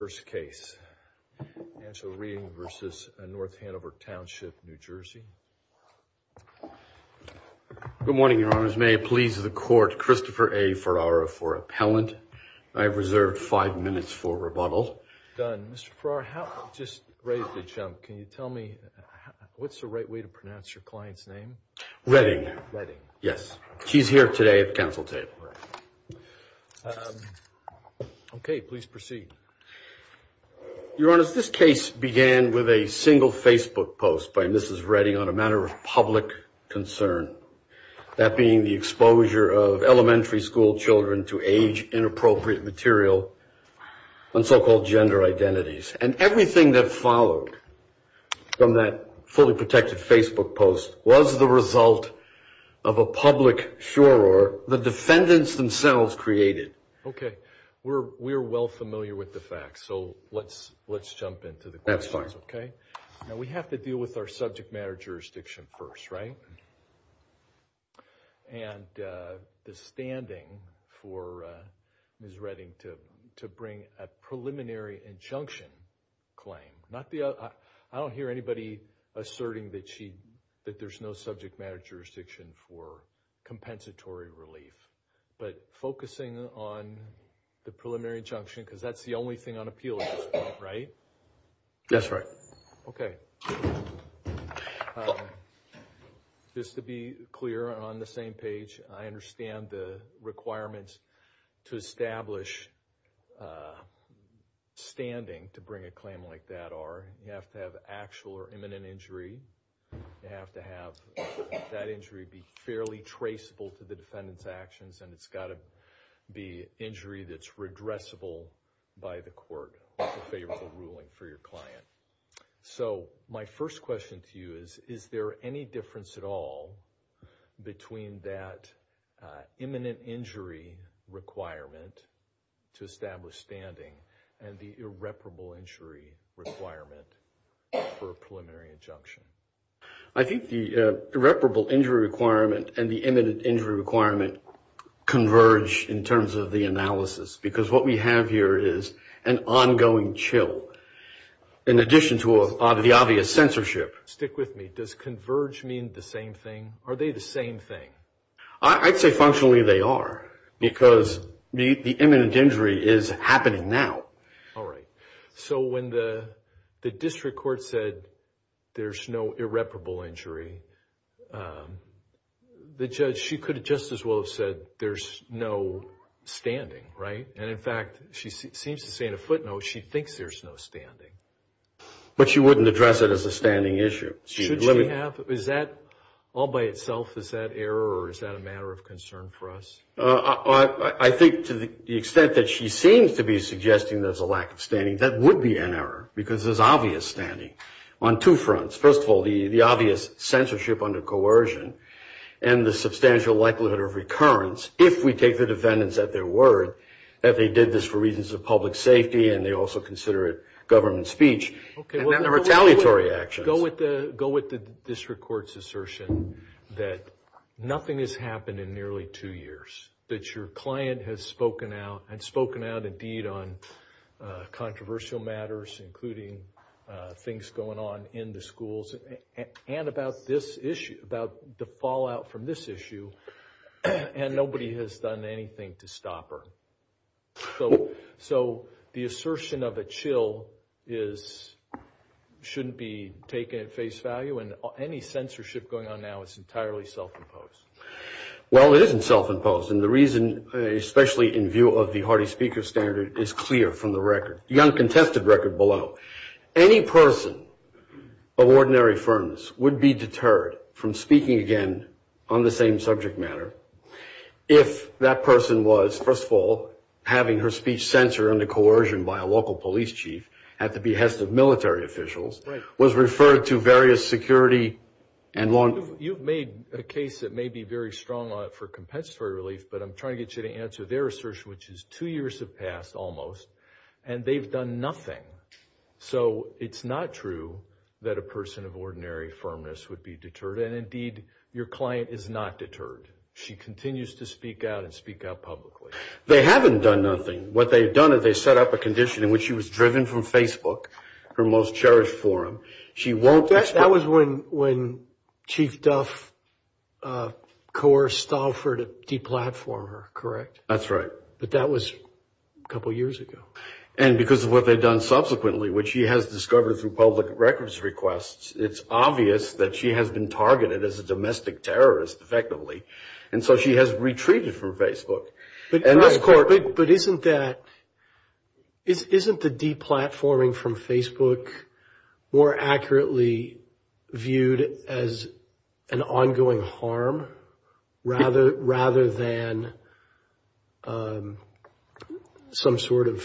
Good morning, Your Honors. May it please the court, Christopher A. Ferraro for appellant. I have reserved five minutes for rebuttal. Done. Mr. Ferraro, you just raised a chump. Can you tell me what's the right way to pronounce your client's name? Redding. Yes. She's here today at the council table. Okay. Please proceed. Your Honor, this case began with a single Facebook post by Mrs. Redding on a matter of public concern. That being the exposure of elementary school children to age-inappropriate material on so-called gender identities. And everything that followed from that fully protected Facebook post was the result of a public furor the defendants themselves created. Okay. We're well familiar with the facts, so let's jump into the questions. That's fine. Okay. Now we have to deal with our subject matter jurisdiction first, right? And the standing for Mrs. Redding to bring a preliminary injunction claim. I don't hear anybody asserting that there's no subject matter jurisdiction for compensatory relief. But focusing on the preliminary injunction, because that's the only thing on appeal at this point, right? That's right. Okay. Just to be clear on the same page, I understand the requirements to establish standing to bring a claim like that are you have to have actual or imminent injury. You have to have that injury be fairly traceable to the defendant's actions. And it's got to be injury that's redressable by the court with a favorable ruling for your client. So my first question to you is, is there any difference at all between that imminent injury requirement to establish standing and the irreparable injury requirement for a preliminary injunction? I think the irreparable injury requirement and the imminent injury requirement converge in terms of the analysis. Because what we have here is an ongoing chill in addition to the obvious censorship. Stick with me. Does converge mean the same thing? Are they the same thing? I'd say functionally they are because the imminent injury is happening now. All right. So when the district court said there's no irreparable injury, the judge, she could just as well have said there's no standing, right? And in fact, she seems to say in a footnote she thinks there's no standing. But she wouldn't address it as a standing issue. Should she have? Is that all by itself? Is that error or is that a matter of concern for us? I think to the extent that she seems to be suggesting there's a lack of standing, that would be an error because there's obvious standing on two fronts. First of all, the obvious censorship under coercion and the substantial likelihood of recurrence, if we take the defendants at their word that they did this for reasons of public safety and they also consider it government speech, and then the retaliatory actions. Go with the district court's assertion that nothing has happened in nearly two years, that your client has spoken out and spoken out indeed on controversial matters, including things going on in the schools, and about this issue, about the fallout from this issue, and nobody has done anything to stop her. So the assertion of a chill shouldn't be taken at face value? And any censorship going on now is entirely self-imposed? Well, it isn't self-imposed. And the reason, especially in view of the Hardy speaker standard, is clear from the record, the uncontested record below. Any person of ordinary firmness would be deterred from speaking again on the same subject matter if that person was, first of all, having her speech censored under coercion by a local police chief at the behest of military officials, was referred to various security and law enforcement. You've made a case that may be very strong on it for compensatory relief, but I'm trying to get you to answer their assertion, which is two years have passed almost, and they've done nothing. So it's not true that a person of ordinary firmness would be deterred, and indeed, your client is not deterred. She continues to speak out and speak out publicly. They haven't done nothing. What they've done is they've set up a condition in which she was driven from Facebook, her most cherished forum. That was when Chief Duff coerced Stauffer to deplatform her, correct? That's right. But that was a couple years ago. And because of what they've done subsequently, which she has discovered through public records requests, it's obvious that she has been targeted as a domestic terrorist effectively, and so she has retreated from Facebook. But isn't the deplatforming from Facebook more accurately viewed as an ongoing harm rather than some sort of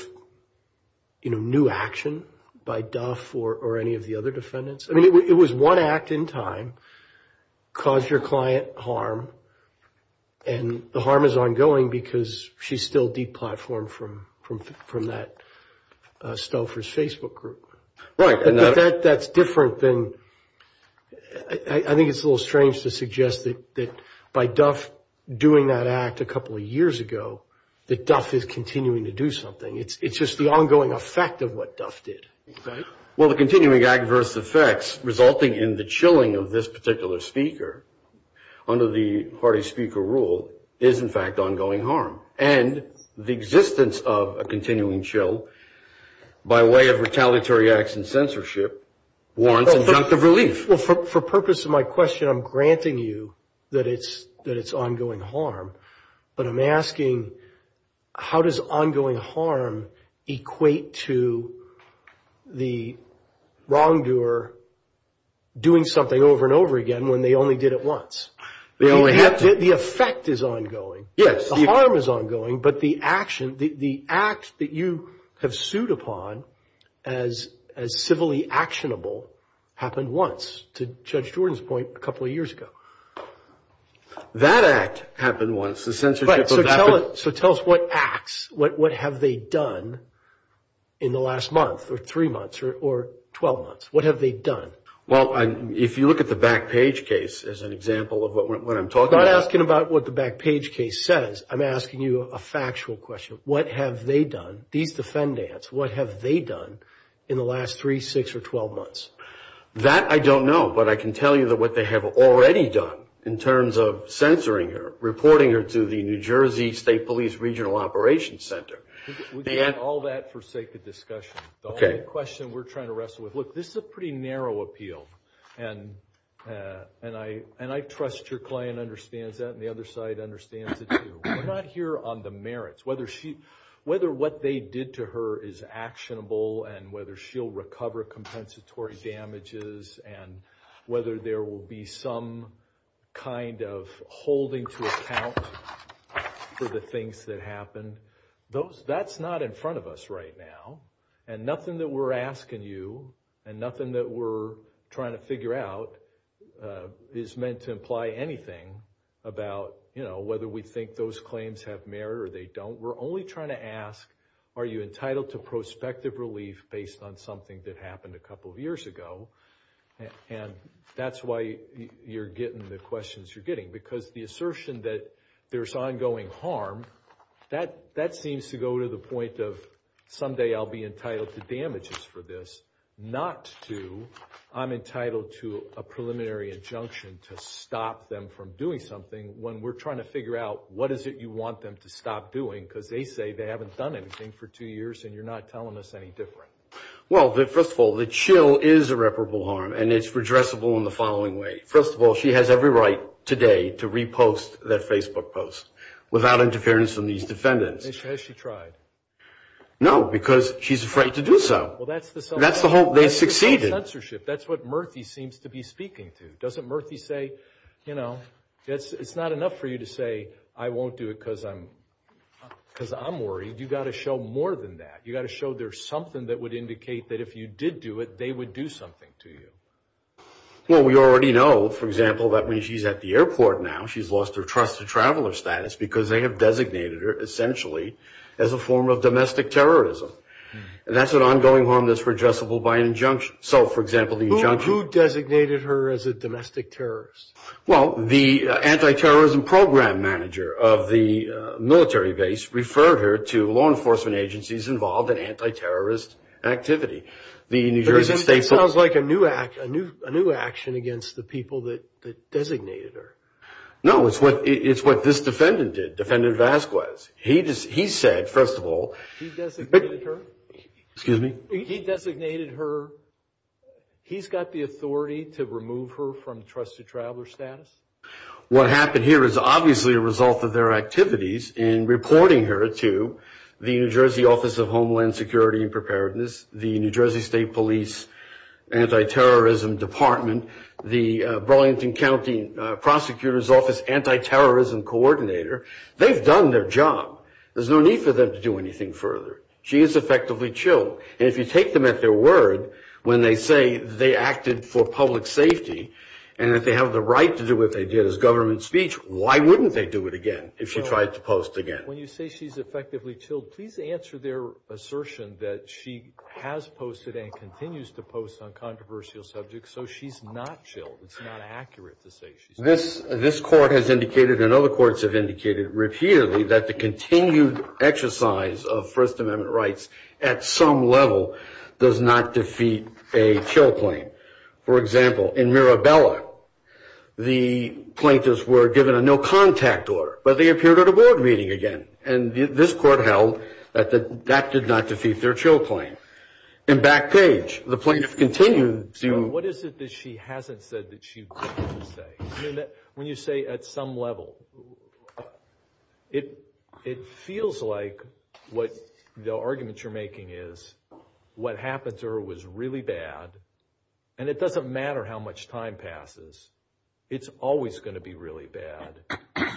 new action by Duff or any of the other defendants? I mean, it was one act in time caused your client harm, and the harm is ongoing because she's still deplatformed from that Stauffer's Facebook group. Right. But that's different than – I think it's a little strange to suggest that by Duff doing that act a couple of years ago, that Duff is continuing to do something. It's just the ongoing effect of what Duff did. Well, the continuing adverse effects resulting in the chilling of this particular speaker under the party speaker rule is, in fact, ongoing harm. And the existence of a continuing chill by way of retaliatory acts and censorship warrants injunctive relief. Well, for purpose of my question, I'm granting you that it's ongoing harm. But I'm asking, how does ongoing harm equate to the wrongdoer doing something over and over again when they only did it once? The effect is ongoing. Yes. The harm is ongoing, but the action – the act that you have sued upon as civilly actionable happened once, to Judge Jordan's point, a couple of years ago. That act happened once. The censorship of that – Right. So tell us what acts – what have they done in the last month or three months or 12 months? What have they done? Well, if you look at the Backpage case as an example of what I'm talking about – I'm asking you a factual question. What have they done – these defendants – what have they done in the last three, six, or 12 months? That I don't know. But I can tell you that what they have already done in terms of censoring her, reporting her to the New Jersey State Police Regional Operations Center – We can get all that for sake of discussion. Okay. The only question we're trying to wrestle with – look, this is a pretty narrow appeal. And I trust your client understands that and the other side understands it, too. We're not here on the merits. Whether she – whether what they did to her is actionable and whether she'll recover compensatory damages and whether there will be some kind of holding to account for the things that happened – That's not in front of us right now. And nothing that we're asking you and nothing that we're trying to figure out is meant to imply anything about whether we think those claims have merit or they don't. We're only trying to ask, are you entitled to prospective relief based on something that happened a couple of years ago? And that's why you're getting the questions you're getting. Because the assertion that there's ongoing harm, that seems to go to the point of someday I'll be entitled to damages for this. Not to, I'm entitled to a preliminary injunction to stop them from doing something when we're trying to figure out what is it you want them to stop doing. Because they say they haven't done anything for two years and you're not telling us any different. Well, first of all, the chill is irreparable harm and it's redressable in the following way. First of all, she has every right today to repost that Facebook post without interference from these defendants. Has she tried? No, because she's afraid to do so. Well, that's the whole – That's the whole – they succeeded. That's the whole censorship. That's what Murthy seems to be speaking to. Doesn't Murthy say, you know, it's not enough for you to say I won't do it because I'm worried. You've got to show more than that. You've got to show there's something that would indicate that if you did do it, they would do something to you. Well, we already know, for example, that when she's at the airport now, she's lost her trusted traveler status because they have designated her essentially as a form of domestic terrorism. And that's an ongoing harm that's redressable by an injunction. So, for example, the injunction – Who designated her as a domestic terrorist? Well, the anti-terrorism program manager of the military base referred her to law enforcement agencies involved in anti-terrorist activity. The New Jersey State – That sounds like a new action against the people that designated her. No, it's what this defendant did, Defendant Vasquez. He said, first of all – He designated her? Excuse me? He designated her? He's got the authority to remove her from trusted traveler status? What happened here is obviously a result of their activities in reporting her to the New Jersey Office of Homeland Security and Preparedness, the New Jersey State Police Anti-Terrorism Department, the Burlington County Prosecutor's Office Anti-Terrorism Coordinator. They've done their job. There's no need for them to do anything further. She is effectively chilled. And if you take them at their word when they say they acted for public safety and that they have the right to do what they did as government speech, why wouldn't they do it again if she tried to post again? When you say she's effectively chilled, please answer their assertion that she has posted and continues to post on controversial subjects, so she's not chilled. It's not accurate to say she's – This court has indicated, and other courts have indicated repeatedly, that the continued exercise of First Amendment rights at some level does not defeat a chill claim. For example, in Mirabella, the plaintiffs were given a no-contact order, but they appeared at a board meeting again. And this court held that that did not defeat their chill claim. In Backpage, the plaintiff continued to – What is it that she hasn't said that she wanted to say? When you say at some level, it feels like what – the argument you're making is what happened to her was really bad, and it doesn't matter how much time passes. It's always going to be really bad.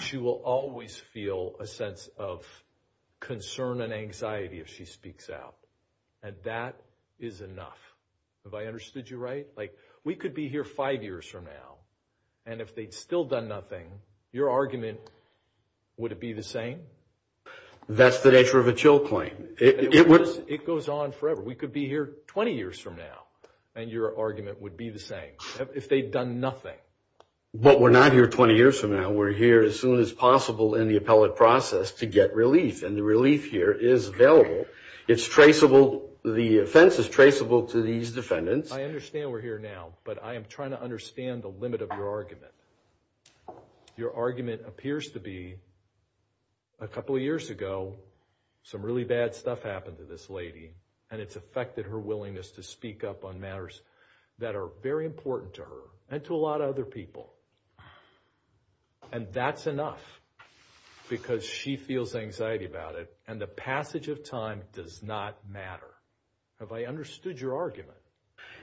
She will always feel a sense of concern and anxiety if she speaks out. And that is enough. Have I understood you right? Like, we could be here five years from now, and if they'd still done nothing, your argument, would it be the same? That's the nature of a chill claim. It goes on forever. We could be here 20 years from now, and your argument would be the same. If they'd done nothing. But we're not here 20 years from now. We're here as soon as possible in the appellate process to get relief, and the relief here is available. It's traceable. The offense is traceable to these defendants. I understand we're here now, but I am trying to understand the limit of your argument. Your argument appears to be, a couple of years ago, some really bad stuff happened to this lady, and it's affected her willingness to speak up on matters that are very important to her and to a lot of other people. And that's enough because she feels anxiety about it, and the passage of time does not matter. Have I understood your argument?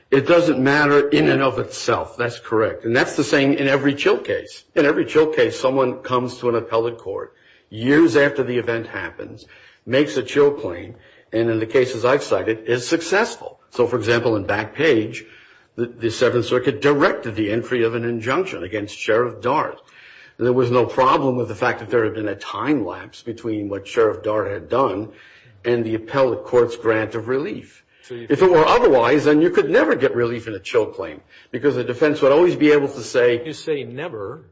It doesn't matter in and of itself. That's correct. And that's the same in every chill case. In every chill case, someone comes to an appellate court years after the event happens, makes a chill claim, and in the cases I've cited, is successful. So, for example, in Backpage, the Seventh Circuit directed the entry of an injunction against Sheriff Dart. There was no problem with the fact that there had been a time lapse between what Sheriff Dart had done and the appellate court's grant of relief. If it were otherwise, then you could never get relief in a chill claim because the defense would always be able to say. You say never.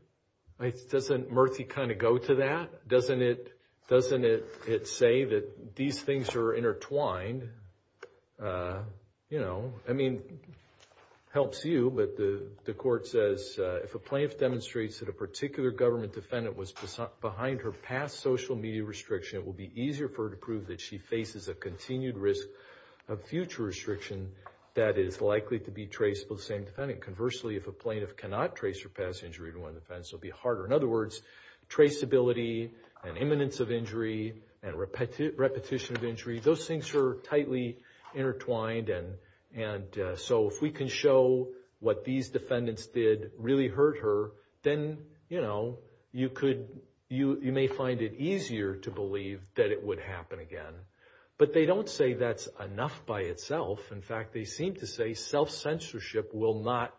Doesn't Murthy kind of go to that? Doesn't it say that these things are intertwined? I mean, it helps you, but the court says, if a plaintiff demonstrates that a particular government defendant was behind her past social media restriction, it will be easier for her to prove that she faces a continued risk of future restriction that is likely to be traceable to the same defendant. Conversely, if a plaintiff cannot trace her past injury to one defense, it will be harder. In other words, traceability and imminence of injury and repetition of injury, those things are tightly intertwined, and so if we can show what these defendants did really hurt her, then you may find it easier to believe that it would happen again. But they don't say that's enough by itself. In fact, they seem to say self-censorship will not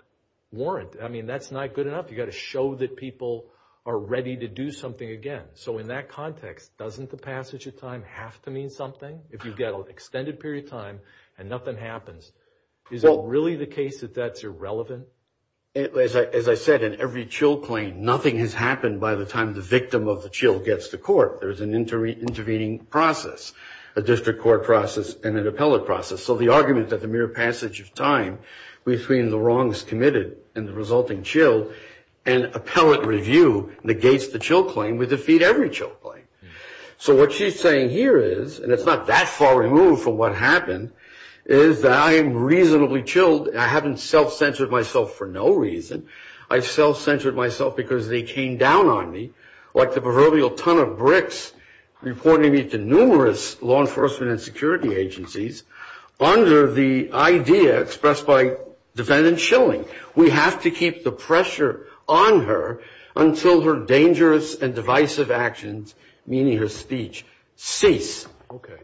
warrant it. I mean, that's not good enough. You've got to show that people are ready to do something again. So in that context, doesn't the passage of time have to mean something? If you've got an extended period of time and nothing happens, is it really the case that that's irrelevant? As I said, in every CHILC claim, nothing has happened by the time the victim of the CHILC gets to court. There's an intervening process, a district court process, and an appellate process. So the argument that the mere passage of time between the wrongs committed and the resulting CHILC and appellate review negates the CHILC claim would defeat every CHILC claim. So what she's saying here is, and it's not that far removed from what happened, is that I am reasonably chilled. I haven't self-censored myself for no reason. I've self-censored myself because they came down on me, like the proverbial ton of bricks reporting me to numerous law enforcement and security agencies, under the idea expressed by defendant Schilling. We have to keep the pressure on her until her dangerous and divisive actions, meaning her speech, cease.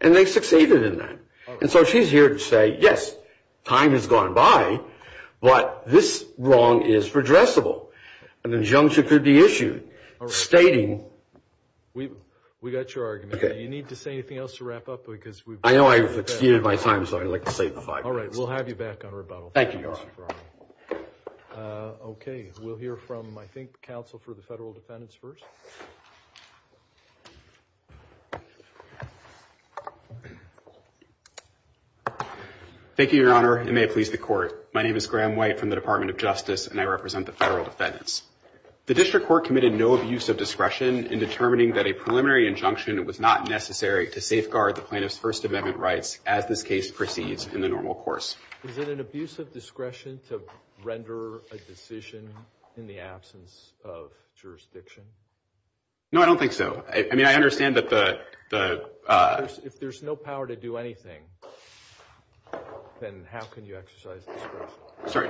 And they succeeded in that. And so she's here to say, yes, time has gone by, but this wrong is redressable. An injunction could be issued stating... We got your argument. Okay. Do you need to say anything else to wrap up? I know I've exceeded my time, so I'd like to save the five minutes. All right, we'll have you back on rebuttal. Thank you, Your Honor. Okay, we'll hear from, I think, counsel for the federal defendants first. Thank you, Your Honor. It may please the court. My name is Graham White from the Department of Justice, and I represent the federal defendants. The district court committed no abuse of discretion in determining that a preliminary injunction was not necessary to safeguard the plaintiff's First Amendment rights as this case proceeds in the normal course. Is it an abuse of discretion to render a decision in the absence of jurisdiction? No, I don't think so. I mean, I understand that the... If there's no power to do anything, then how can you exercise discretion? Sorry,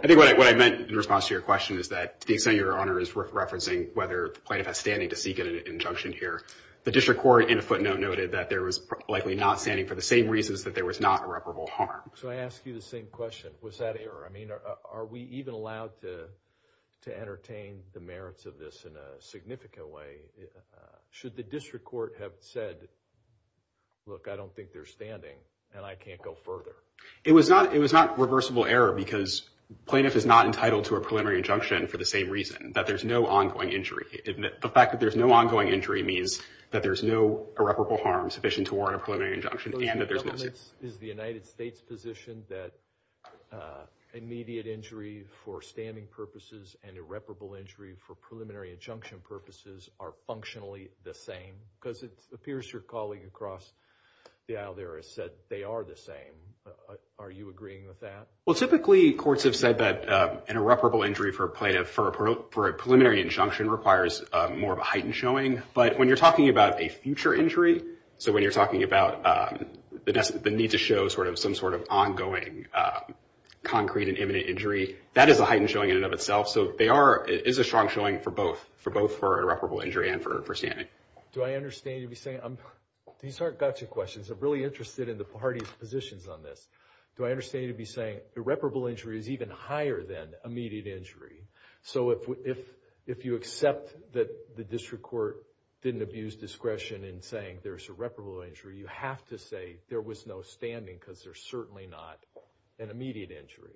I think what I meant in response to your question is that, to the extent Your Honor is referencing whether the plaintiff has standing to seek an injunction here, the district court, in a footnote, noted that there was likely not standing for the same reasons that there was not irreparable harm. So I ask you the same question. Was that error? I mean, are we even allowed to entertain the merits of this in a significant way? Should the district court have said, look, I don't think there's standing, and I can't go further? It was not reversible error because plaintiff is not entitled to a preliminary injunction for the same reason, that there's no ongoing injury. The fact that there's no ongoing injury means that there's no irreparable harm sufficient to warrant a preliminary injunction. Is the United States positioned that immediate injury for standing purposes and irreparable injury for preliminary injunction purposes are functionally the same? Because it appears your colleague across the aisle there has said they are the same. Are you agreeing with that? Well, typically, courts have said that an irreparable injury for a preliminary injunction requires more of a heightened showing. But when you're talking about a future injury, so when you're talking about the need to show some sort of ongoing concrete and imminent injury, that is a heightened showing in and of itself. So it is a strong showing for both, for both for irreparable injury and for standing. Do I understand you to be saying – these aren't gotcha questions. I'm really interested in the party's positions on this. Do I understand you to be saying irreparable injury is even higher than immediate injury? So if you accept that the district court didn't abuse discretion in saying there's irreparable injury, you have to say there was no standing because there's certainly not an immediate injury.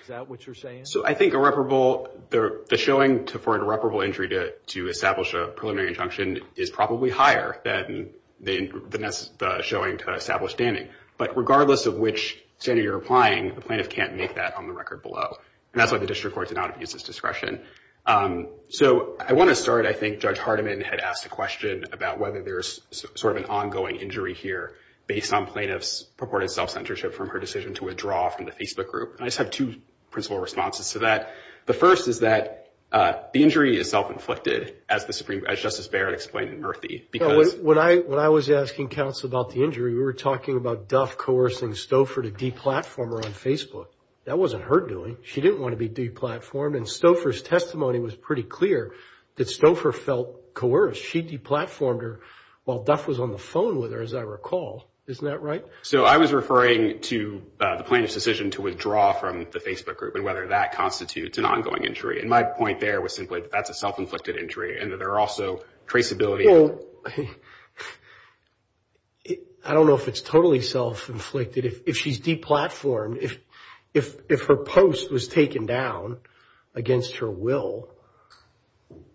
Is that what you're saying? So I think irreparable – the showing for an irreparable injury to establish a preliminary injunction is probably higher than the showing to establish standing. But regardless of which standard you're applying, the plaintiff can't make that on the record below. And that's why the district court did not abuse its discretion. So I want to start, I think Judge Hardiman had asked a question about whether there's sort of an ongoing injury here based on plaintiff's purported self-censorship from her decision to withdraw from the Facebook group. And I just have two principal responses to that. The first is that the injury is self-inflicted, as Justice Barrett explained in Murphy. When I was asking counsel about the injury, we were talking about Duff coercing Stouffer to deplatform her on Facebook. That wasn't her doing. She didn't want to be deplatformed. And Stouffer's testimony was pretty clear that Stouffer felt coerced. She deplatformed her while Duff was on the phone with her, as I recall. Isn't that right? So I was referring to the plaintiff's decision to withdraw from the Facebook group and whether that constitutes an ongoing injury. And my point there was simply that that's a self-inflicted injury and that there are also traceability. Well, I don't know if it's totally self-inflicted. If she's deplatformed, if her post was taken down against her will,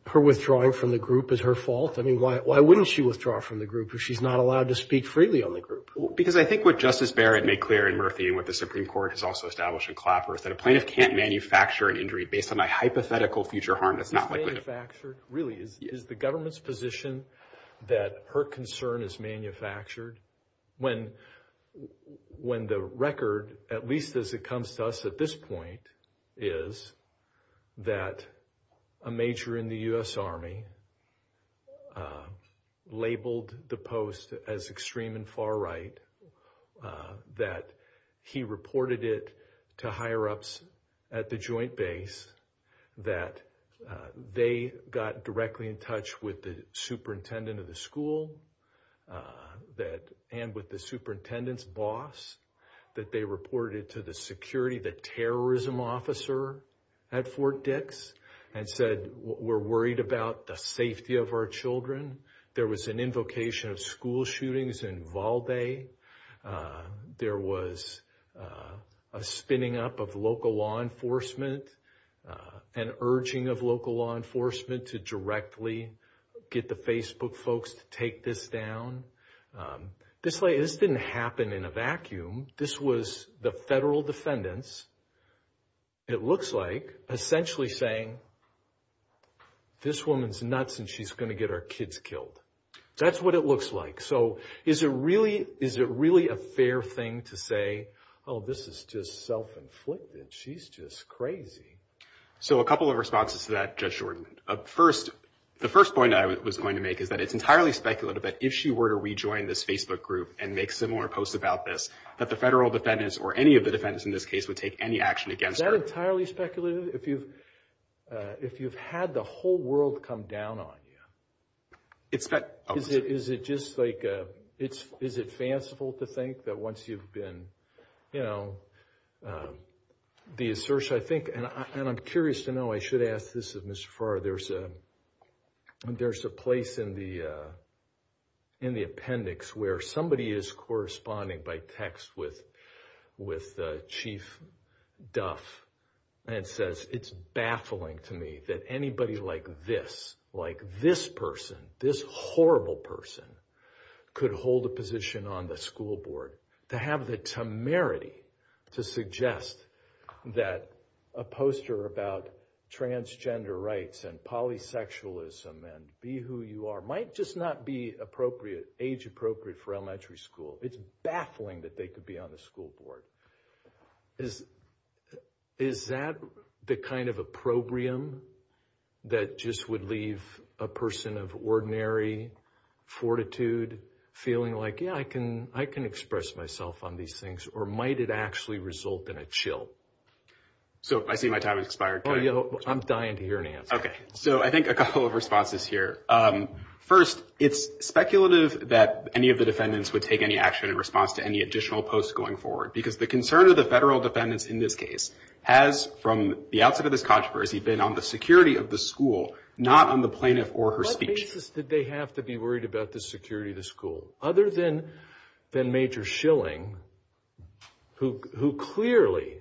her withdrawing from the group is her fault? I mean, why wouldn't she withdraw from the group if she's not allowed to speak freely on the group? Because I think what Justice Barrett made clear in Murphy and what the Supreme Court has also established in Clapper is that a plaintiff can't manufacture an injury based on a hypothetical future harm that's not likely to occur. Really, is the government's position that her concern is manufactured? When the record, at least as it comes to us at this point, is that a major in the U.S. Army labeled the post as extreme and far right, that he reported it to higher-ups at the Joint Base, that they got directly in touch with the superintendent of the school and with the superintendent's boss, that they reported it to the security, the terrorism officer at Fort Dix, and said, we're worried about the safety of our children. There was an invocation of school shootings in Valdez. There was a spinning up of local law enforcement, an urging of local law enforcement to directly get the Facebook folks to take this down. This didn't happen in a vacuum. This was the federal defendants, it looks like, essentially saying, this woman's nuts and she's going to get our kids killed. That's what it looks like. So is it really a fair thing to say, oh, this is just self-inflicted. She's just crazy. So a couple of responses to that, Judge Jordan. First, the first point I was going to make is that it's entirely speculative that if she were to rejoin this Facebook group and make similar posts about this, that the federal defendants or any of the defendants in this case would take any action against her. Is that entirely speculative? If you've had the whole world come down on you, is it just like a, is it fanciful to think that once you've been, you know, the assertion, I think, and I'm curious to know, I should ask this of Mr. Farr, there's a place in the appendix where somebody is corresponding by text with Chief Duff and says, it's baffling to me that anybody like this, like this person, this horrible person, could hold a position on the school board. To have the temerity to suggest that a poster about transgender rights and polysexualism and be who you are might just not be appropriate, age appropriate for elementary school. It's baffling that they could be on the school board. Is that the kind of opprobrium that just would leave a person of ordinary fortitude feeling like, yeah, I can express myself on these things, or might it actually result in a chill? So I see my time has expired. I'm dying to hear an answer. Okay, so I think a couple of responses here. First, it's speculative that any of the defendants would take any action in response to any additional posts going forward, because the concern of the federal defendants in this case has, from the outset of this controversy, been on the security of the school, not on the plaintiff or her speech. In what cases did they have to be worried about the security of the school? Other than Major Schilling, who clearly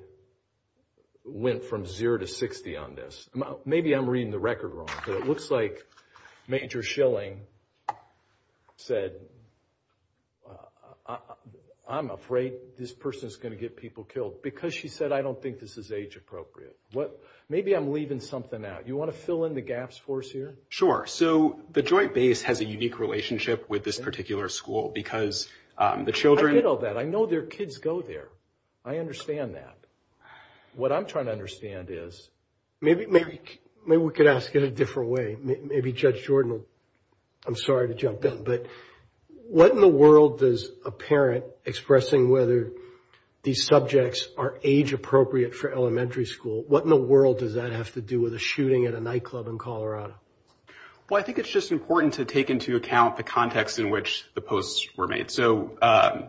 went from zero to 60 on this. Maybe I'm reading the record wrong, but it looks like Major Schilling said, I'm afraid this person is going to get people killed, because she said, I don't think this is age appropriate. Maybe I'm leaving something out. You want to fill in the gaps for us here? Sure. So the Joint Base has a unique relationship with this particular school, because the children— I get all that. I know their kids go there. I understand that. What I'm trying to understand is— Maybe we could ask it a different way. Maybe Judge Jordan will—I'm sorry to jump in, but what in the world does a parent, expressing whether these subjects are age appropriate for elementary school, what in the world does that have to do with a shooting at a nightclub in Colorado? Well, I think it's just important to take into account the context in which the posts were made. So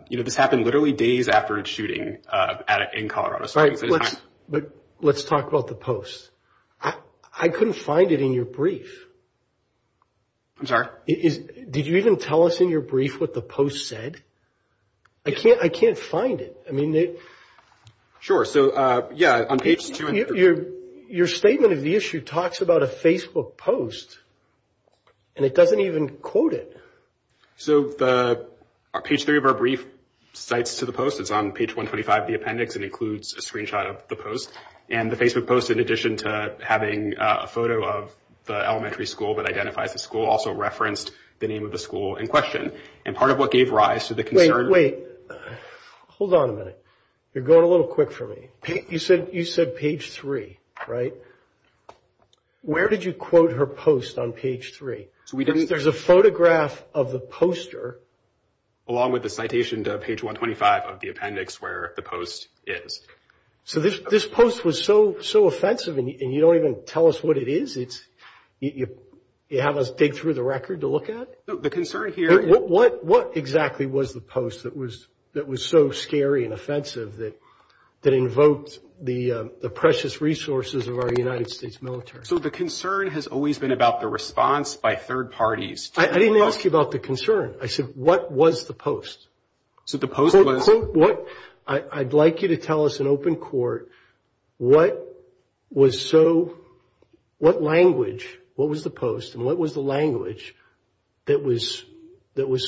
this happened literally days after a shooting in Colorado. But let's talk about the posts. I couldn't find it in your brief. I'm sorry? Did you even tell us in your brief what the posts said? I can't find it. Sure. Your statement of the issue talks about a Facebook post, and it doesn't even quote it. So page three of our brief cites to the post. It's on page 125 of the appendix. It includes a screenshot of the post. And the Facebook post, in addition to having a photo of the elementary school that identifies the school, also referenced the name of the school in question. And part of what gave rise to the concern— Wait. Hold on a minute. You're going a little quick for me. You said page three, right? Where did you quote her post on page three? There's a photograph of the poster. Along with the citation to page 125 of the appendix where the post is. So this post was so offensive, and you don't even tell us what it is? You have us dig through the record to look at? The concern here— What exactly was the post that was so scary and offensive that invoked the precious resources of our United States military? So the concern has always been about the response by third parties. I didn't ask you about the concern. I said what was the post. So the post was— Quote what—I'd like you to tell us in open court what was so—what language, what was the post, and what was the language that was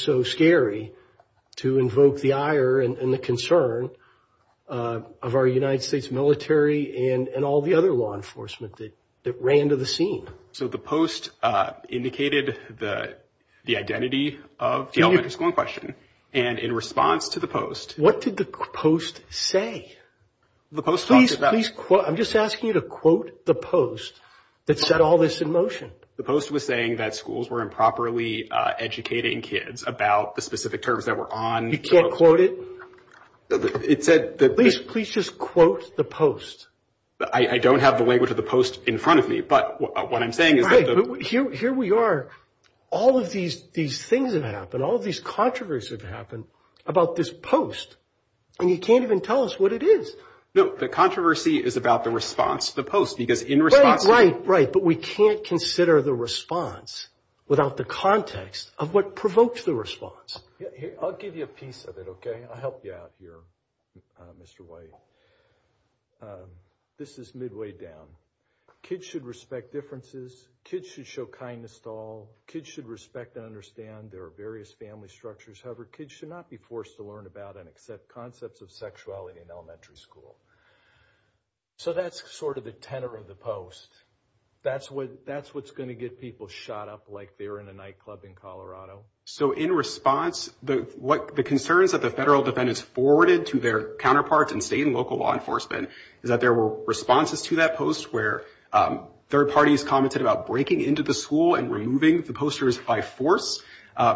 so scary to invoke the ire and the concern of our United States military and all the other law enforcement that ran to the scene? So the post indicated the identity of the elementary school in question. And in response to the post— What did the post say? The post talked about— I'm just asking you to quote the post that set all this in motion. The post was saying that schools were improperly educating kids about the specific terms that were on— You can't quote it? It said— Please just quote the post. I don't have the language of the post in front of me, but what I'm saying is— Right, but here we are. All of these things have happened. All of these controversies have happened about this post, and you can't even tell us what it is. No, the controversy is about the response to the post, because in response— Right, right, right. But we can't consider the response without the context of what provoked the response. I'll give you a piece of it, okay? I'll help you out here, Mr. White. This is midway down. Kids should respect differences. Kids should show kindness to all. Kids should respect and understand there are various family structures. However, kids should not be forced to learn about and accept concepts of sexuality in elementary school. So that's sort of the tenor of the post. That's what's going to get people shot up like they're in a nightclub in Colorado. So in response, the concerns that the federal defendants forwarded to their counterparts and state and local law enforcement is that there were responses to that post where third parties commented about breaking into the school and removing the posters by force.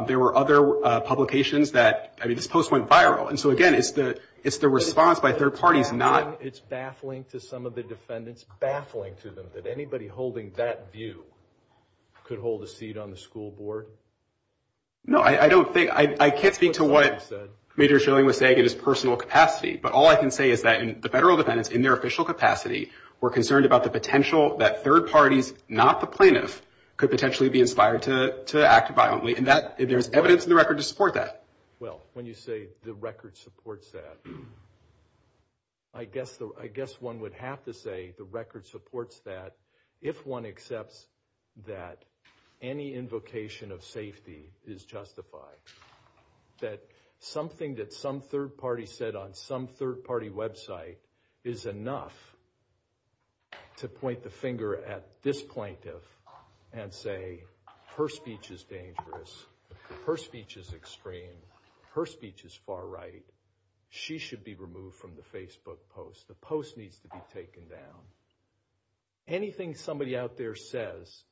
There were other publications that—I mean, this post went viral. And so, again, it's the response by third parties not— It's baffling to some of the defendants, baffling to them, that anybody holding that view could hold a seat on the school board. No, I don't think—I can't speak to what Major Schilling was saying in his personal capacity. But all I can say is that the federal defendants, in their official capacity, were concerned about the potential that third parties, not the plaintiff, could potentially be inspired to act violently. And there's evidence in the record to support that. Well, when you say the record supports that, I guess one would have to say the record supports that if one accepts that any invocation of safety is justified. That something that some third party said on some third party website is enough to point the finger at this plaintiff and say, her speech is dangerous, her speech is extreme, her speech is far right, she should be removed from the Facebook post, the post needs to be taken down. Anything somebody out there says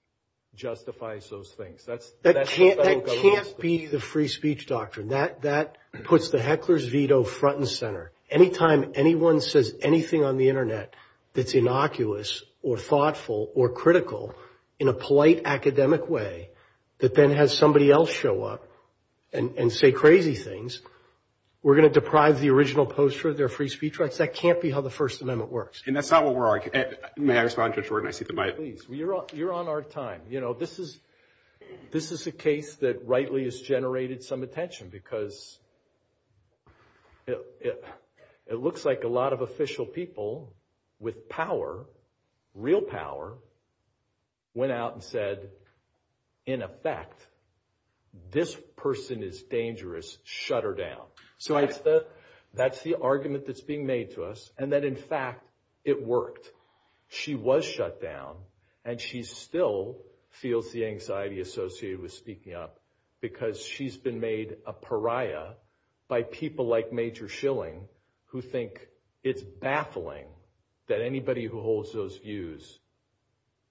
justifies those things. That can't be the free speech doctrine. That puts the heckler's veto front and center. Any time anyone says anything on the Internet that's innocuous or thoughtful or critical in a polite academic way that then has somebody else show up and say crazy things, we're going to deprive the original poster of their free speech rights? That can't be how the First Amendment works. And that's not what we're arguing. May I respond, Judge Warden? I see the mic. Please. You're on our time. You know, this is a case that rightly has generated some attention because it looks like a lot of official people with power, real power, went out and said, in effect, this person is dangerous, shut her down. So that's the argument that's being made to us and that, in fact, it worked. She was shut down, and she still feels the anxiety associated with speaking up because she's been made a pariah by people like Major Schilling who think it's baffling that anybody who holds those views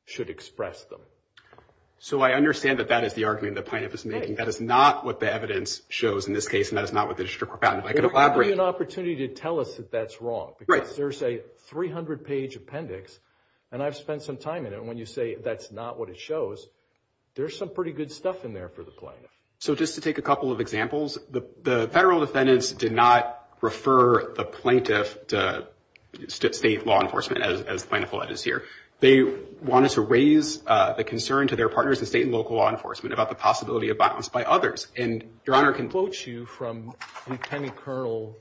should express them. So I understand that that is the argument that PINEAPP is making. That is not what the evidence shows in this case, and that is not what the district court found. If I could elaborate. Give you an opportunity to tell us that that's wrong because there's a 300-page appendix, and I've spent some time in it, and when you say that's not what it shows, there's some pretty good stuff in there for the plaintiff. So just to take a couple of examples, the federal defendants did not refer the plaintiff to state law enforcement as the plaintiff will address here. They wanted to raise the concern to their partners in state and local law enforcement about the possibility of violence by others. Your Honor, I can quote you from Lieutenant Colonel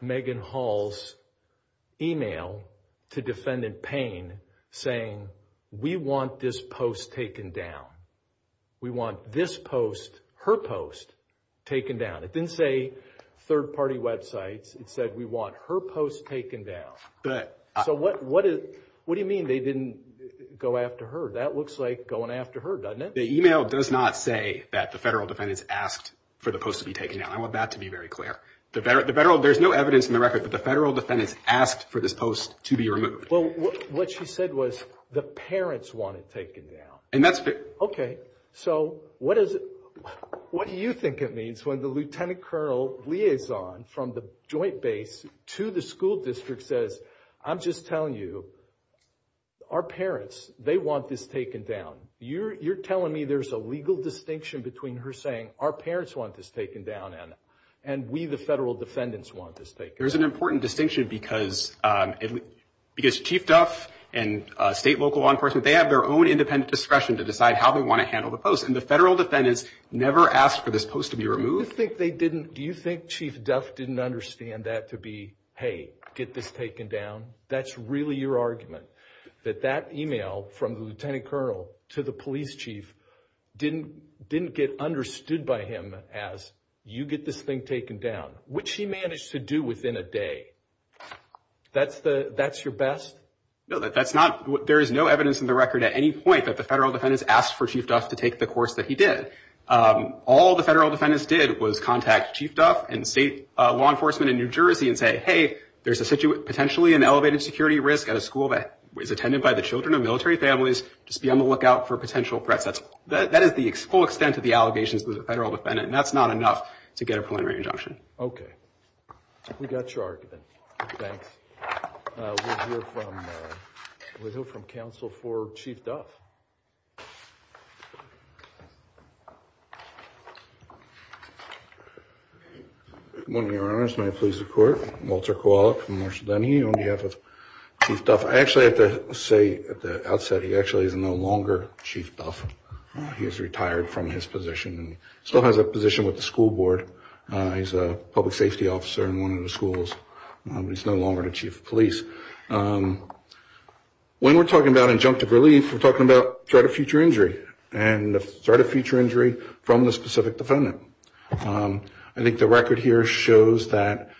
Megan Hall's email to Defendant Payne saying, we want this post taken down. We want this post, her post, taken down. It didn't say third-party websites. It said we want her post taken down. So what do you mean they didn't go after her? That looks like going after her, doesn't it? The email does not say that the federal defendants asked for the post to be taken down. I want that to be very clear. There's no evidence in the record that the federal defendants asked for this post to be removed. Well, what she said was the parents want it taken down. Okay. So what do you think it means when the Lieutenant Colonel liaison from the joint base to the school district says, I'm just telling you, our parents, they want this taken down. You're telling me there's a legal distinction between her saying our parents want this taken down and we, the federal defendants, want this taken down. There's an important distinction because Chief Duff and state and local law enforcement, they have their own independent discretion to decide how they want to handle the post, and the federal defendants never asked for this post to be removed. Do you think Chief Duff didn't understand that to be, hey, get this taken down? That's really your argument, that that email from the Lieutenant Colonel to the police chief didn't get understood by him as you get this thing taken down, which he managed to do within a day. That's your best? No, there is no evidence in the record at any point that the federal defendants asked for Chief Duff to take the course that he did. All the federal defendants did was contact Chief Duff and state law enforcement in New Jersey and say, hey, there's potentially an elevated security risk at a school that is attended by the children of military families. Just be on the lookout for potential threats. That is the full extent of the allegations of the federal defendant, and that's not enough to get a preliminary injunction. Okay. We got your argument. Thanks. We'll hear from counsel for Chief Duff. Good morning, Your Honors. May it please the Court. Walter Kowalik, Marshal Denny, on behalf of Chief Duff. I actually have to say at the outset he actually is no longer Chief Duff. He has retired from his position and still has a position with the school board. He's a public safety officer in one of the schools. He's no longer the chief of police. When we're talking about injunctive relief, we're talking about an injunctive relief, a threat of future injury, and a threat of future injury from the specific defendant. I think the record here shows that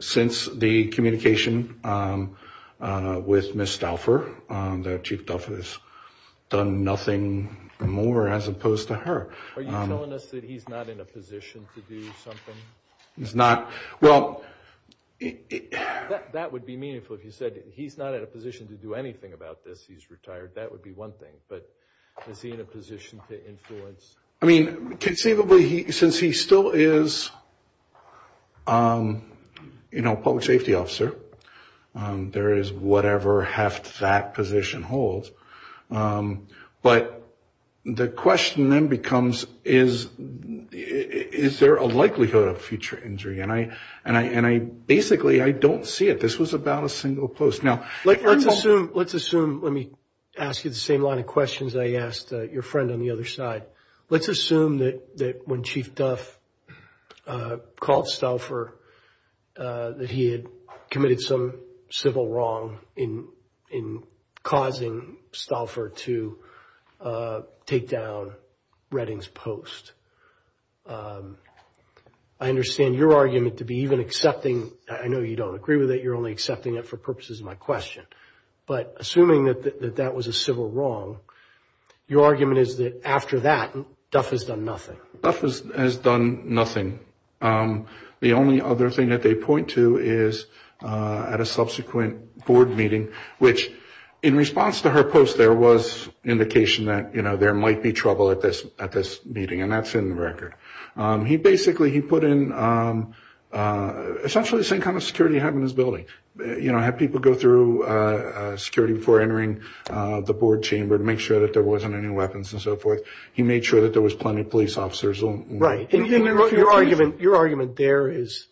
since the communication with Miss Duffer, that Chief Duff has done nothing more as opposed to her. Are you telling us that he's not in a position to do something? He's not. Well, that would be meaningful if you said he's not in a position to do anything about this. He's retired. That would be one thing. But is he in a position to influence? I mean, conceivably, since he still is a public safety officer, there is whatever heft that position holds. But the question then becomes, is there a likelihood of future injury? And basically I don't see it. This was about a single post. Let's assume, let me ask you the same line of questions I asked your friend on the other side. Let's assume that when Chief Duff called Stouffer that he had committed some civil wrong in causing Stouffer to take down Redding's post. I understand your argument to be even accepting, I know you don't agree with it, you're only accepting it for purposes of my question. But assuming that that was a civil wrong, your argument is that after that, Duff has done nothing. Duff has done nothing. The only other thing that they point to is at a subsequent board meeting, which in response to her post there was indication that, you know, there might be trouble at this meeting, and that's in the record. He basically, he put in essentially the same kind of security he had in his building. You know, had people go through security before entering the board chamber to make sure that there wasn't any weapons and so forth. He made sure that there was plenty of police officers. Right. Your argument there is,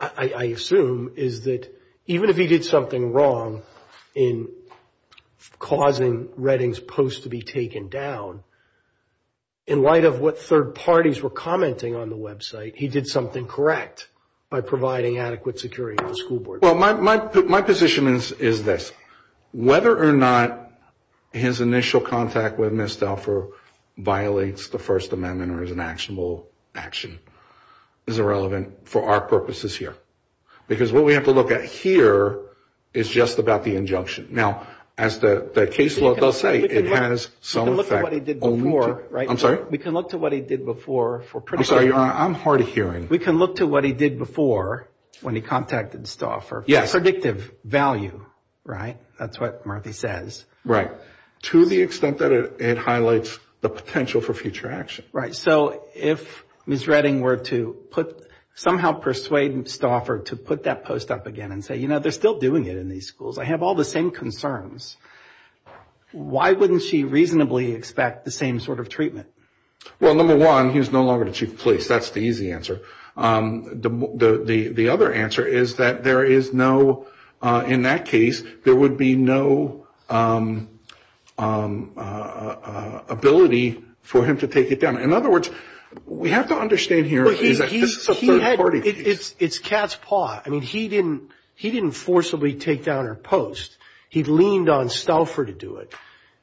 I assume, is that even if he did something wrong in causing Redding's post to be taken down, in light of what third parties were commenting on the website, he did something correct by providing adequate security to the school board. Well, my position is this. Whether or not his initial contact with Ms. Duffer violates the First Amendment or is an actionable action is irrelevant for our purposes here. Because what we have to look at here is just about the injunction. Now, as the case law does say, it has some effect only to... I'm sorry? We can look to what he did before for... I'm sorry. I'm hard of hearing. We can look to what he did before when he contacted Stauffer for predictive value, right? That's what Murphy says. Right. To the extent that it highlights the potential for future action. Right. So if Ms. Redding were to somehow persuade Stauffer to put that post up again and say, you know, they're still doing it in these schools. I have all the same concerns. Why wouldn't she reasonably expect the same sort of treatment? Well, number one, he's no longer the chief of police. That's the easy answer. The other answer is that there is no... in that case, there would be no ability for him to take it down. In other words, we have to understand here that this is a third party case. It's cat's paw. I mean, he didn't forcibly take down her post. He leaned on Stauffer to do it.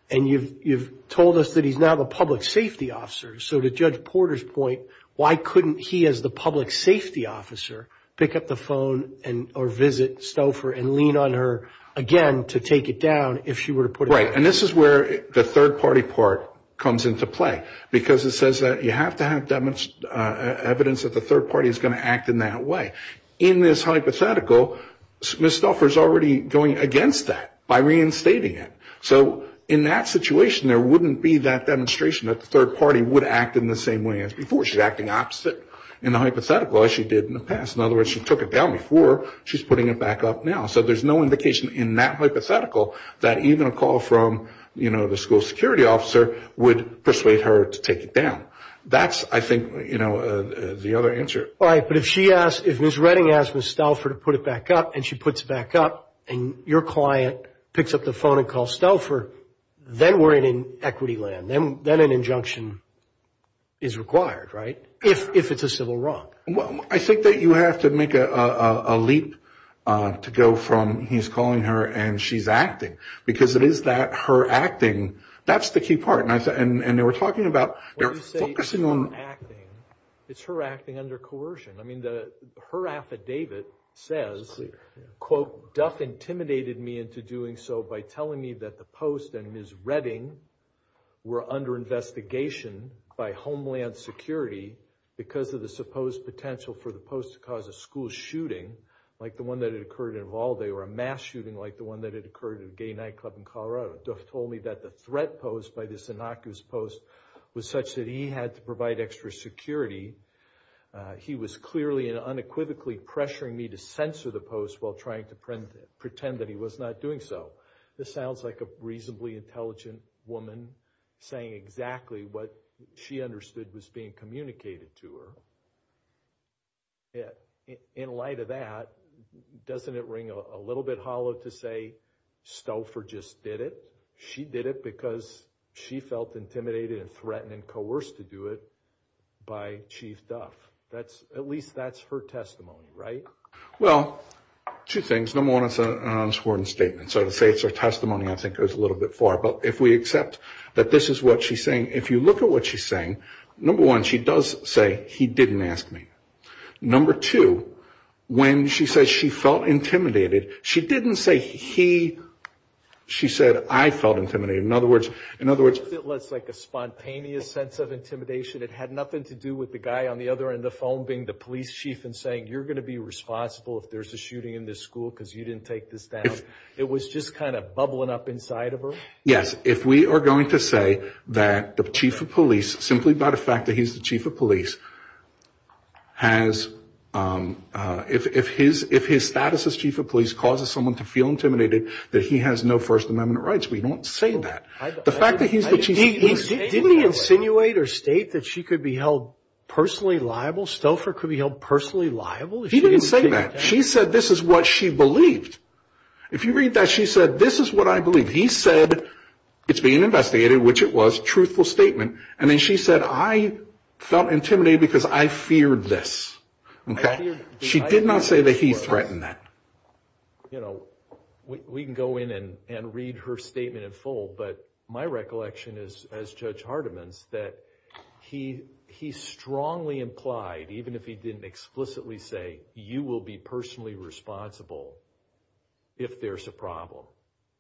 And you've told us that he's now the public safety officer. So to Judge Porter's point, why couldn't he, as the public safety officer, pick up the phone or visit Stauffer and lean on her again to take it down if she were to put it up? Right. And this is where the third party part comes into play, because it says that you have to have evidence that the third party is going to act in that way. In this hypothetical, Ms. Stauffer is already going against that by reinstating it. So in that situation, there wouldn't be that demonstration that the third party would act in the same way as before. She's acting opposite in the hypothetical as she did in the past. In other words, she took it down before. She's putting it back up now. So there's no indication in that hypothetical that even a call from, you know, the school security officer would persuade her to take it down. That's, I think, you know, the other answer. Right. But if she asked, if Ms. Redding asked Ms. Stauffer to put it back up and she puts it back up and your client picks up the phone and calls Stauffer, then we're in an equity land. Then an injunction is required, right, if it's a civil wrong. Well, I think that you have to make a leap to go from he's calling her and she's acting, because it is that her acting, that's the key part. And they were talking about, they were focusing on. It's her acting under coercion. I mean, her affidavit says, quote, Duff intimidated me into doing so by telling me that the post and Ms. Redding were under investigation by Homeland Security because of the supposed potential for the post to cause a school shooting, like the one that had occurred in Valle de Oro, a mass shooting like the one that had occurred at a gay nightclub in Colorado. Duff told me that the threat posed by this innocuous post was such that he had to provide extra security. He was clearly and unequivocally pressuring me to censor the post while trying to pretend that he was not doing so. This sounds like a reasonably intelligent woman saying exactly what she understood was being communicated to her. In light of that, doesn't it ring a little bit hollow to say Stouffer just did it? She did it because she felt intimidated and threatened and coerced to do it by Chief Duff. At least that's her testimony, right? Well, two things. Number one, it's an unsworn statement. So to say it's her testimony I think goes a little bit far. But if we accept that this is what she's saying, if you look at what she's saying, number one, she does say he didn't ask me. Number two, when she says she felt intimidated, she didn't say he. She said I felt intimidated. In other words, in other words, it was like a spontaneous sense of intimidation. It had nothing to do with the guy on the other end of the phone being the police chief and saying, you're going to be responsible if there's a shooting in this school because you didn't take this down. It was just kind of bubbling up inside of her. Yes, if we are going to say that the chief of police, simply by the fact that he's the chief of police, if his status as chief of police causes someone to feel intimidated, that he has no First Amendment rights, we don't say that. Didn't he insinuate or state that she could be held personally liable? Stouffer could be held personally liable? He didn't say that. She said this is what she believed. If you read that, she said, this is what I believe. He said it's being investigated, which it was, truthful statement. And then she said, I felt intimidated because I feared this. Okay? She did not say that he threatened that. You know, we can go in and read her statement in full, but my recollection is, as Judge Hardiman's, that he strongly implied, even if he didn't explicitly say, you will be personally responsible if there's a problem.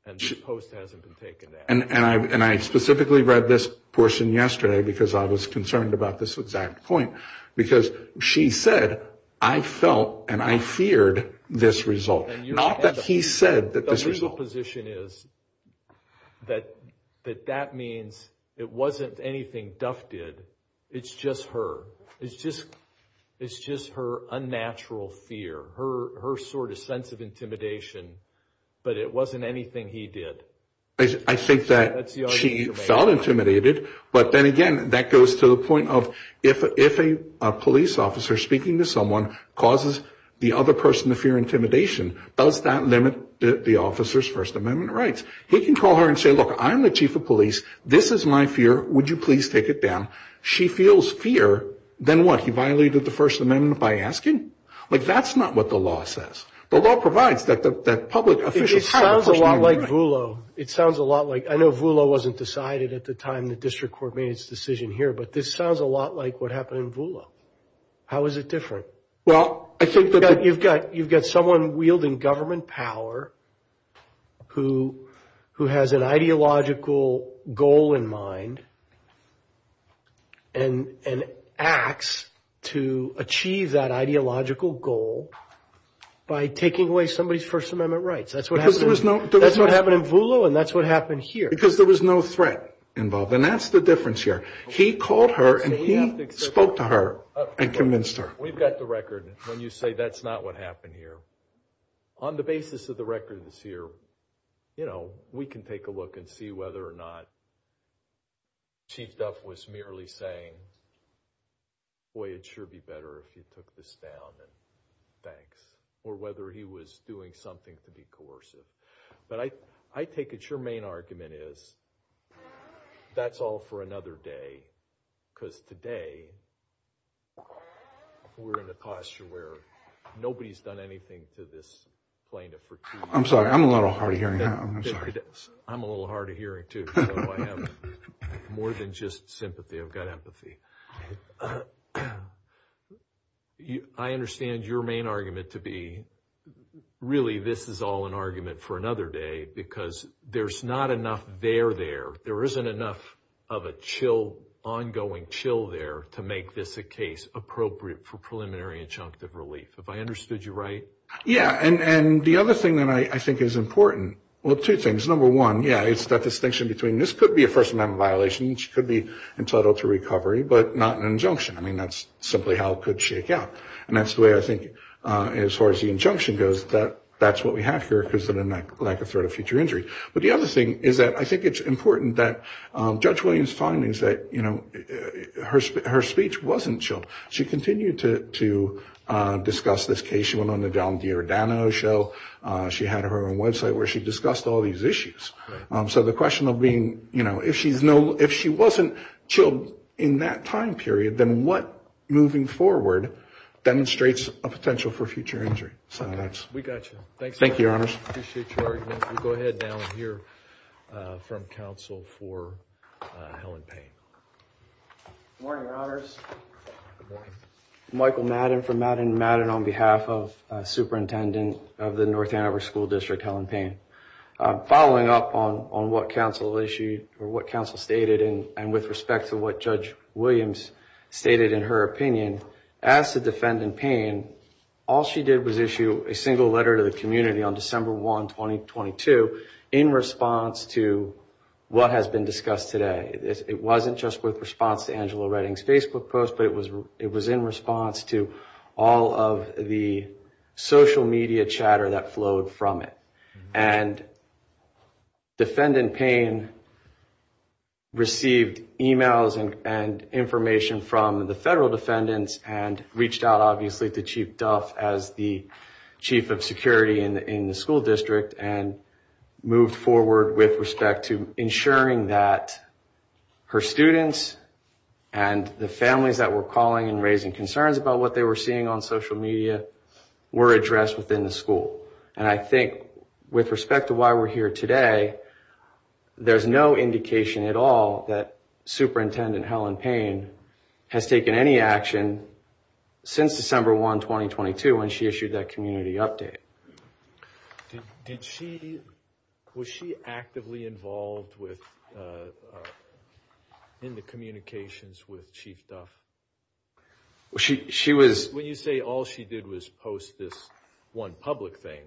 And this post hasn't been taken at. And I specifically read this portion yesterday because I was concerned about this exact point. Because she said, I felt and I feared this result. Not that he said that this result. The legal position is that that means it wasn't anything Duff did. It's just her. It's just her unnatural fear, her sort of sense of intimidation. But it wasn't anything he did. I think that she felt intimidated. But then again, that goes to the point of, if a police officer speaking to someone causes the other person to fear intimidation, does that limit the officer's First Amendment rights? He can call her and say, look, I'm the chief of police. This is my fear. Would you please take it down? She feels fear. Then what? He violated the First Amendment by asking? Like, that's not what the law says. The law provides that public officials have a First Amendment right. It sounds a lot like Voolo. It sounds a lot like, I know Voolo wasn't decided at the time the district court made its decision here, but this sounds a lot like what happened in Voolo. How is it different? Well, I think that the. You've got someone wielding government power who has an ideological goal in mind and acts to achieve that ideological goal by taking away somebody's First Amendment rights. That's what happened in Voolo, and that's what happened here. Because there was no threat involved. And that's the difference here. He called her and he spoke to her and convinced her. We've got the record when you say that's not what happened here. On the basis of the records here, you know, we can take a look and see whether or not Chief Duff was merely saying, boy, it'd sure be better if you took this down. Thanks. Or whether he was doing something to be coercive. But I take it your main argument is that's all for another day. Because today we're in a posture where nobody's done anything to this plaintiff. I'm sorry. I'm a little hard of hearing. I'm a little hard of hearing, too. I have more than just sympathy. I've got empathy. I understand your main argument to be really this is all an argument for another day because there's not enough there there. There isn't enough of a chill, ongoing chill there to make this a case appropriate for preliminary injunctive relief. Have I understood you right? Yeah. And the other thing that I think is important, well, two things. Number one, yeah, it's that distinction between this could be a first amendment violation. She could be entitled to recovery, but not an injunction. I mean, that's simply how it could shake out. And that's the way I think as far as the injunction goes that that's what we have here because of the lack of threat of future injury. But the other thing is that I think it's important that Judge Williams' findings that, you know, her speech wasn't chilled. She continued to discuss this case. She went on the John D'Ordano show. She had her own website where she discussed all these issues. So the question of being, you know, if she wasn't chilled in that time period, then what moving forward demonstrates a potential for future injury? We got you. Thanks. Thank you, Your Honors. I appreciate your argument. We'll go ahead now and hear from counsel for Helen Payne. Good morning, Your Honors. Good morning. Michael Madden from Madden & Madden on behalf of the superintendent of the North Hanover School District, Helen Payne. Following up on what counsel stated and with respect to what Judge Williams stated in her opinion, as to Defendant Payne, all she did was issue a single letter to the community on December 1, 2022, in response to what has been discussed today. It wasn't just with response to Angela Redding's Facebook post, but it was in response to all of the social media chatter that flowed from it. And Defendant Payne received emails and information from the federal defendants and reached out, obviously, to Chief Duff as the chief of security in the school district and moved forward with respect to ensuring that her students and the families that were calling and raising concerns about what they were seeing on social media were addressed within the school. And I think with respect to why we're here today, there's no indication at all that Superintendent Helen Payne has taken any action since December 1, 2022, when she issued that community update. Was she actively involved in the communications with Chief Duff? She was. When you say all she did was post this one public thing.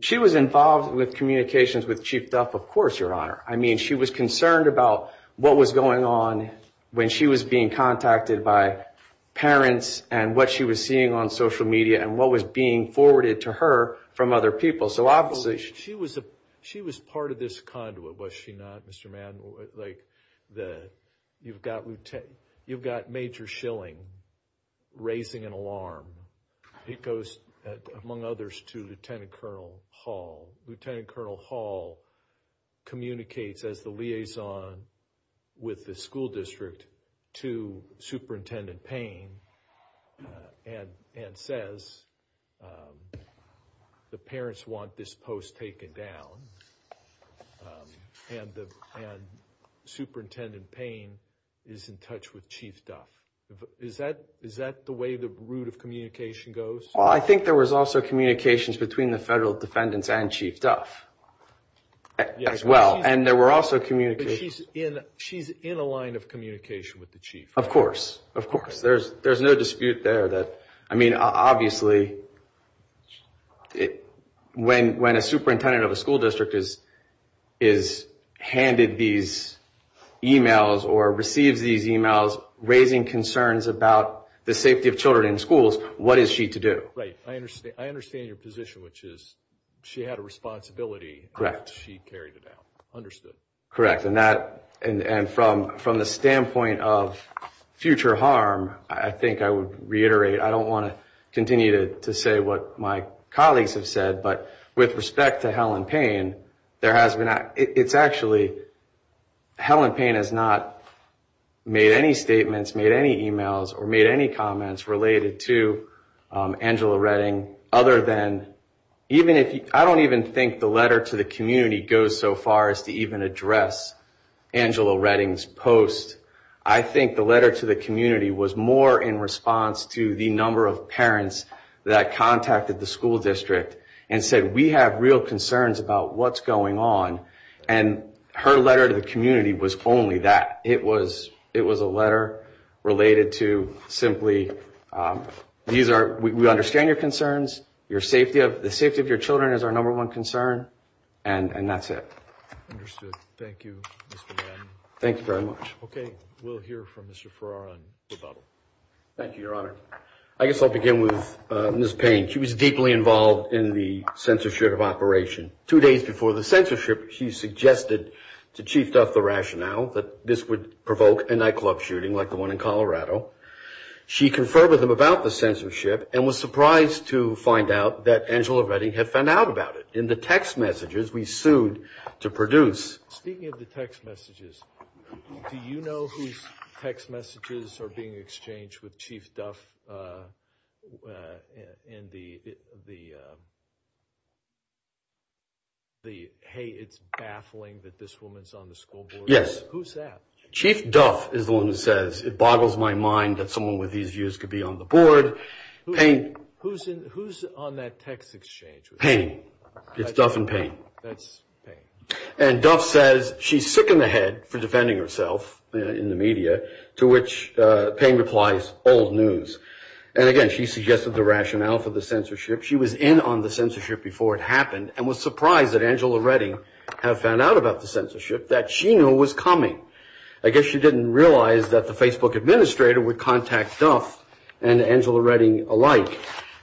She was involved with communications with Chief Duff, of course, Your Honor. I mean, she was concerned about what was going on when she was being contacted by parents and what she was seeing on social media and what was being forwarded to her from other people. She was part of this conduit, was she not, Mr. Madden? Like, you've got Major Schilling raising an alarm. He goes, among others, to Lieutenant Colonel Hall. Lieutenant Colonel Hall communicates as the liaison with the school district to Superintendent Payne and says the parents want this post taken down and Superintendent Payne is in touch with Chief Duff. Is that the way the route of communication goes? Well, I think there was also communications between the federal defendants and Chief Duff as well, and there were also communications. But she's in a line of communication with the Chief, right? Of course, of course. There's no dispute there. I mean, obviously, when a superintendent of a school district is handed these e-mails or receives these e-mails raising concerns about the safety of children in schools, what is she to do? Right. I understand your position, which is she had a responsibility and she carried it out. Correct. And from the standpoint of future harm, I think I would reiterate, I don't want to continue to say what my colleagues have said, but with respect to Helen Payne, there has been – it's actually – Helen Payne has not made any statements, made any e-mails, or made any comments related to Angela Redding other than – I don't even think the letter to the community goes so far as to even address Angela Redding's post. I think the letter to the community was more in response to the number of parents that contacted the school district and said, we have real concerns about what's going on. And her letter to the community was only that. It was a letter related to simply – these are – we understand your concerns. Your safety of – the safety of your children is our number one concern. And that's it. Understood. Thank you, Mr. Madden. Thank you very much. Okay. We'll hear from Mr. Farrar on rebuttal. Thank you, Your Honor. I guess I'll begin with Ms. Payne. She was deeply involved in the censorship of operation. Two days before the censorship, she suggested to Chief Duff the rationale that this would provoke a nightclub shooting like the one in Colorado. She conferred with him about the censorship and was surprised to find out that Angela Redding had found out about it. In the text messages we sued to produce – Speaking of the text messages, do you know whose text messages are being exchanged with Chief Duff in the – hey, it's baffling that this woman's on the school board? Yes. Who's that? Chief Duff is the one who says, it boggles my mind that someone with these views could be on the board. Payne – Who's on that text exchange with her? Payne. It's Duff and Payne. That's Payne. And Duff says she's sick in the head for defending herself in the media, to which Payne replies, old news. And again, she suggested the rationale for the censorship. She was in on the censorship before it happened and was surprised that Angela Redding had found out about the censorship that she knew was coming. I guess she didn't realize that the Facebook administrator would contact Duff and Angela Redding alike,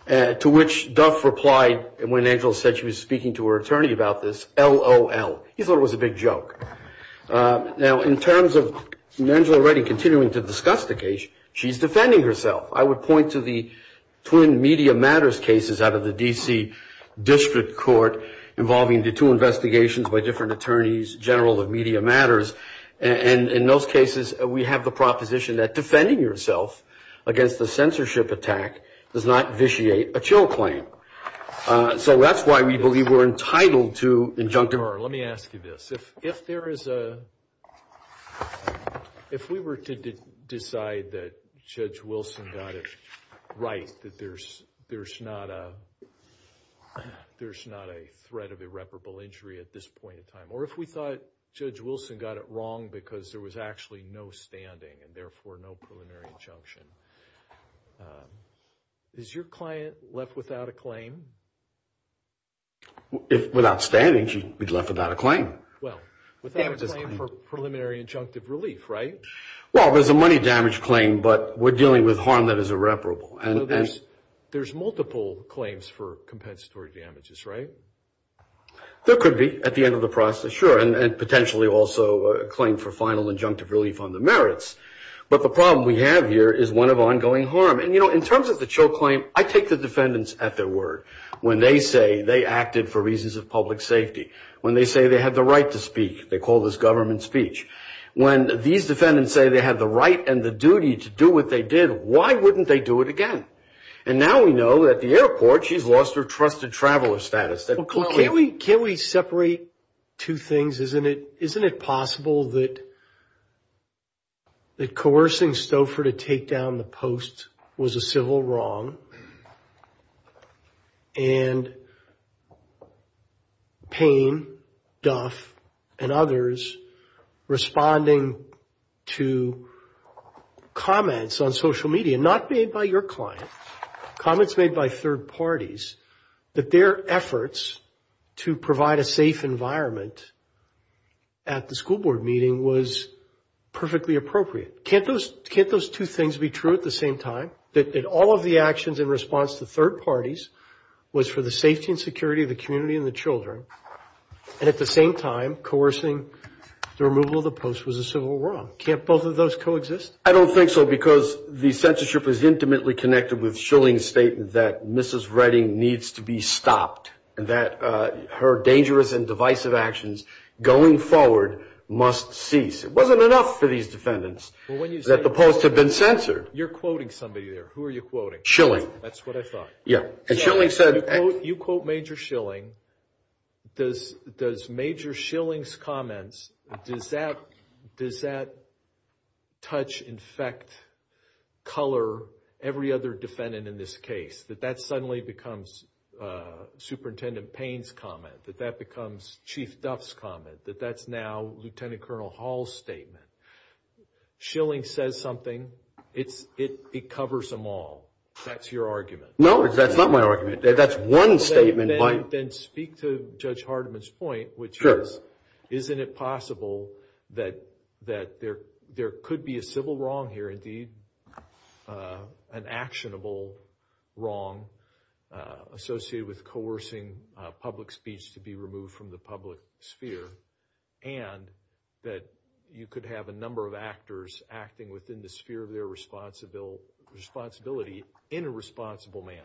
to which Duff replied when Angela said she was speaking to her attorney about this, LOL. He thought it was a big joke. Now, in terms of Angela Redding continuing to discuss the case, she's defending herself. I would point to the twin media matters cases out of the D.C. District Court involving the two investigations by different attorneys general of media matters, and in those cases we have the proposition that defending yourself against the censorship attack does not vitiate a chill claim. So that's why we believe we're entitled to injunction. Let me ask you this. If we were to decide that Judge Wilson got it right, that there's not a threat of irreparable injury at this point in time, or if we thought Judge Wilson got it wrong because there was actually no standing and therefore no preliminary injunction, is your client left without a claim? Without standing, she'd be left without a claim. Well, without a claim for preliminary injunctive relief, right? Well, there's a money damage claim, but we're dealing with harm that is irreparable. There's multiple claims for compensatory damages, right? There could be at the end of the process, sure, and potentially also a claim for final injunctive relief on the merits. But the problem we have here is one of ongoing harm. And, you know, in terms of the chill claim, I take the defendants at their word. When they say they acted for reasons of public safety, when they say they had the right to speak, they call this government speech. When these defendants say they had the right and the duty to do what they did, why wouldn't they do it again? And now we know that the airport, she's lost her trusted traveler status. Well, can't we separate two things? Isn't it possible that coercing Stouffer to take down the post was a civil wrong and Payne, Duff, and others responding to comments on social media, not made by your client, comments made by third parties that their efforts to provide a safe environment at the school board meeting was perfectly appropriate? Can't those two things be true at the same time, that all of the actions in response to third parties was for the safety and security of the community and the children, and at the same time coercing the removal of the post was a civil wrong? Can't both of those coexist? I don't think so because the censorship is intimately connected with Schilling's statement that Mrs. Redding needs to be stopped and that her dangerous and divisive actions going forward must cease. It wasn't enough for these defendants that the post had been censored. You're quoting somebody there. Who are you quoting? That's what I thought. Yeah. And Schilling said – You quote Major Schilling. Does Major Schilling's comments, does that touch, infect, color every other defendant in this case, that that suddenly becomes Superintendent Payne's comment, that that becomes Chief Duff's comment, that that's now Lieutenant Colonel Hall's statement? Schilling says something. It covers them all. That's your argument. No, that's not my argument. That's one statement. Then speak to Judge Hardiman's point, which is, isn't it possible that there could be a civil wrong here, indeed an actionable wrong associated with coercing public speech to be removed from the public sphere, and that you could have a number of actors acting within the sphere of their responsibility in a responsible manner?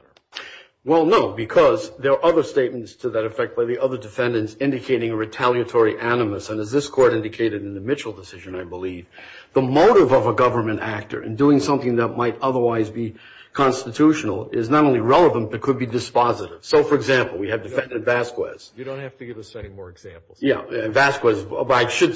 Well, no, because there are other statements to that effect, where the other defendant's indicating a retaliatory animus, and as this Court indicated in the Mitchell decision, I believe, the motive of a government actor in doing something that might otherwise be constitutional is not only relevant, but could be dispositive. So, for example, we have Defendant Vasquez. You don't have to give us any more examples. Yeah. Vasquez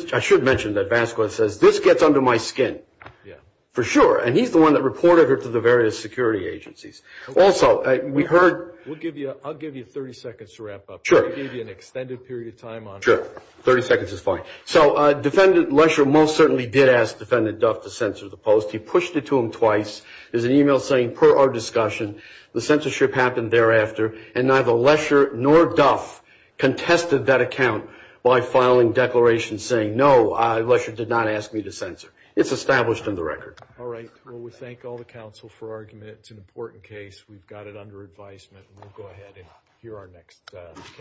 – I should mention that Vasquez says, this gets under my skin. Yeah. For sure. And he's the one that reported it to the various security agencies. Also, we heard – We'll give you – I'll give you 30 seconds to wrap up. Sure. I'll give you an extended period of time on it. Sure. 30 seconds is fine. So, Defendant Lesher most certainly did ask Defendant Duff to censor the post. He pushed it to him twice. There's an email saying, per our discussion, the censorship happened thereafter, and neither Lesher nor Duff contested that account by filing declarations saying, no, Lesher did not ask me to censor. It's established in the record. All right. Well, we thank all the counsel for argument. It's an important case. We've got it under advisement, and we'll go ahead and hear our next case.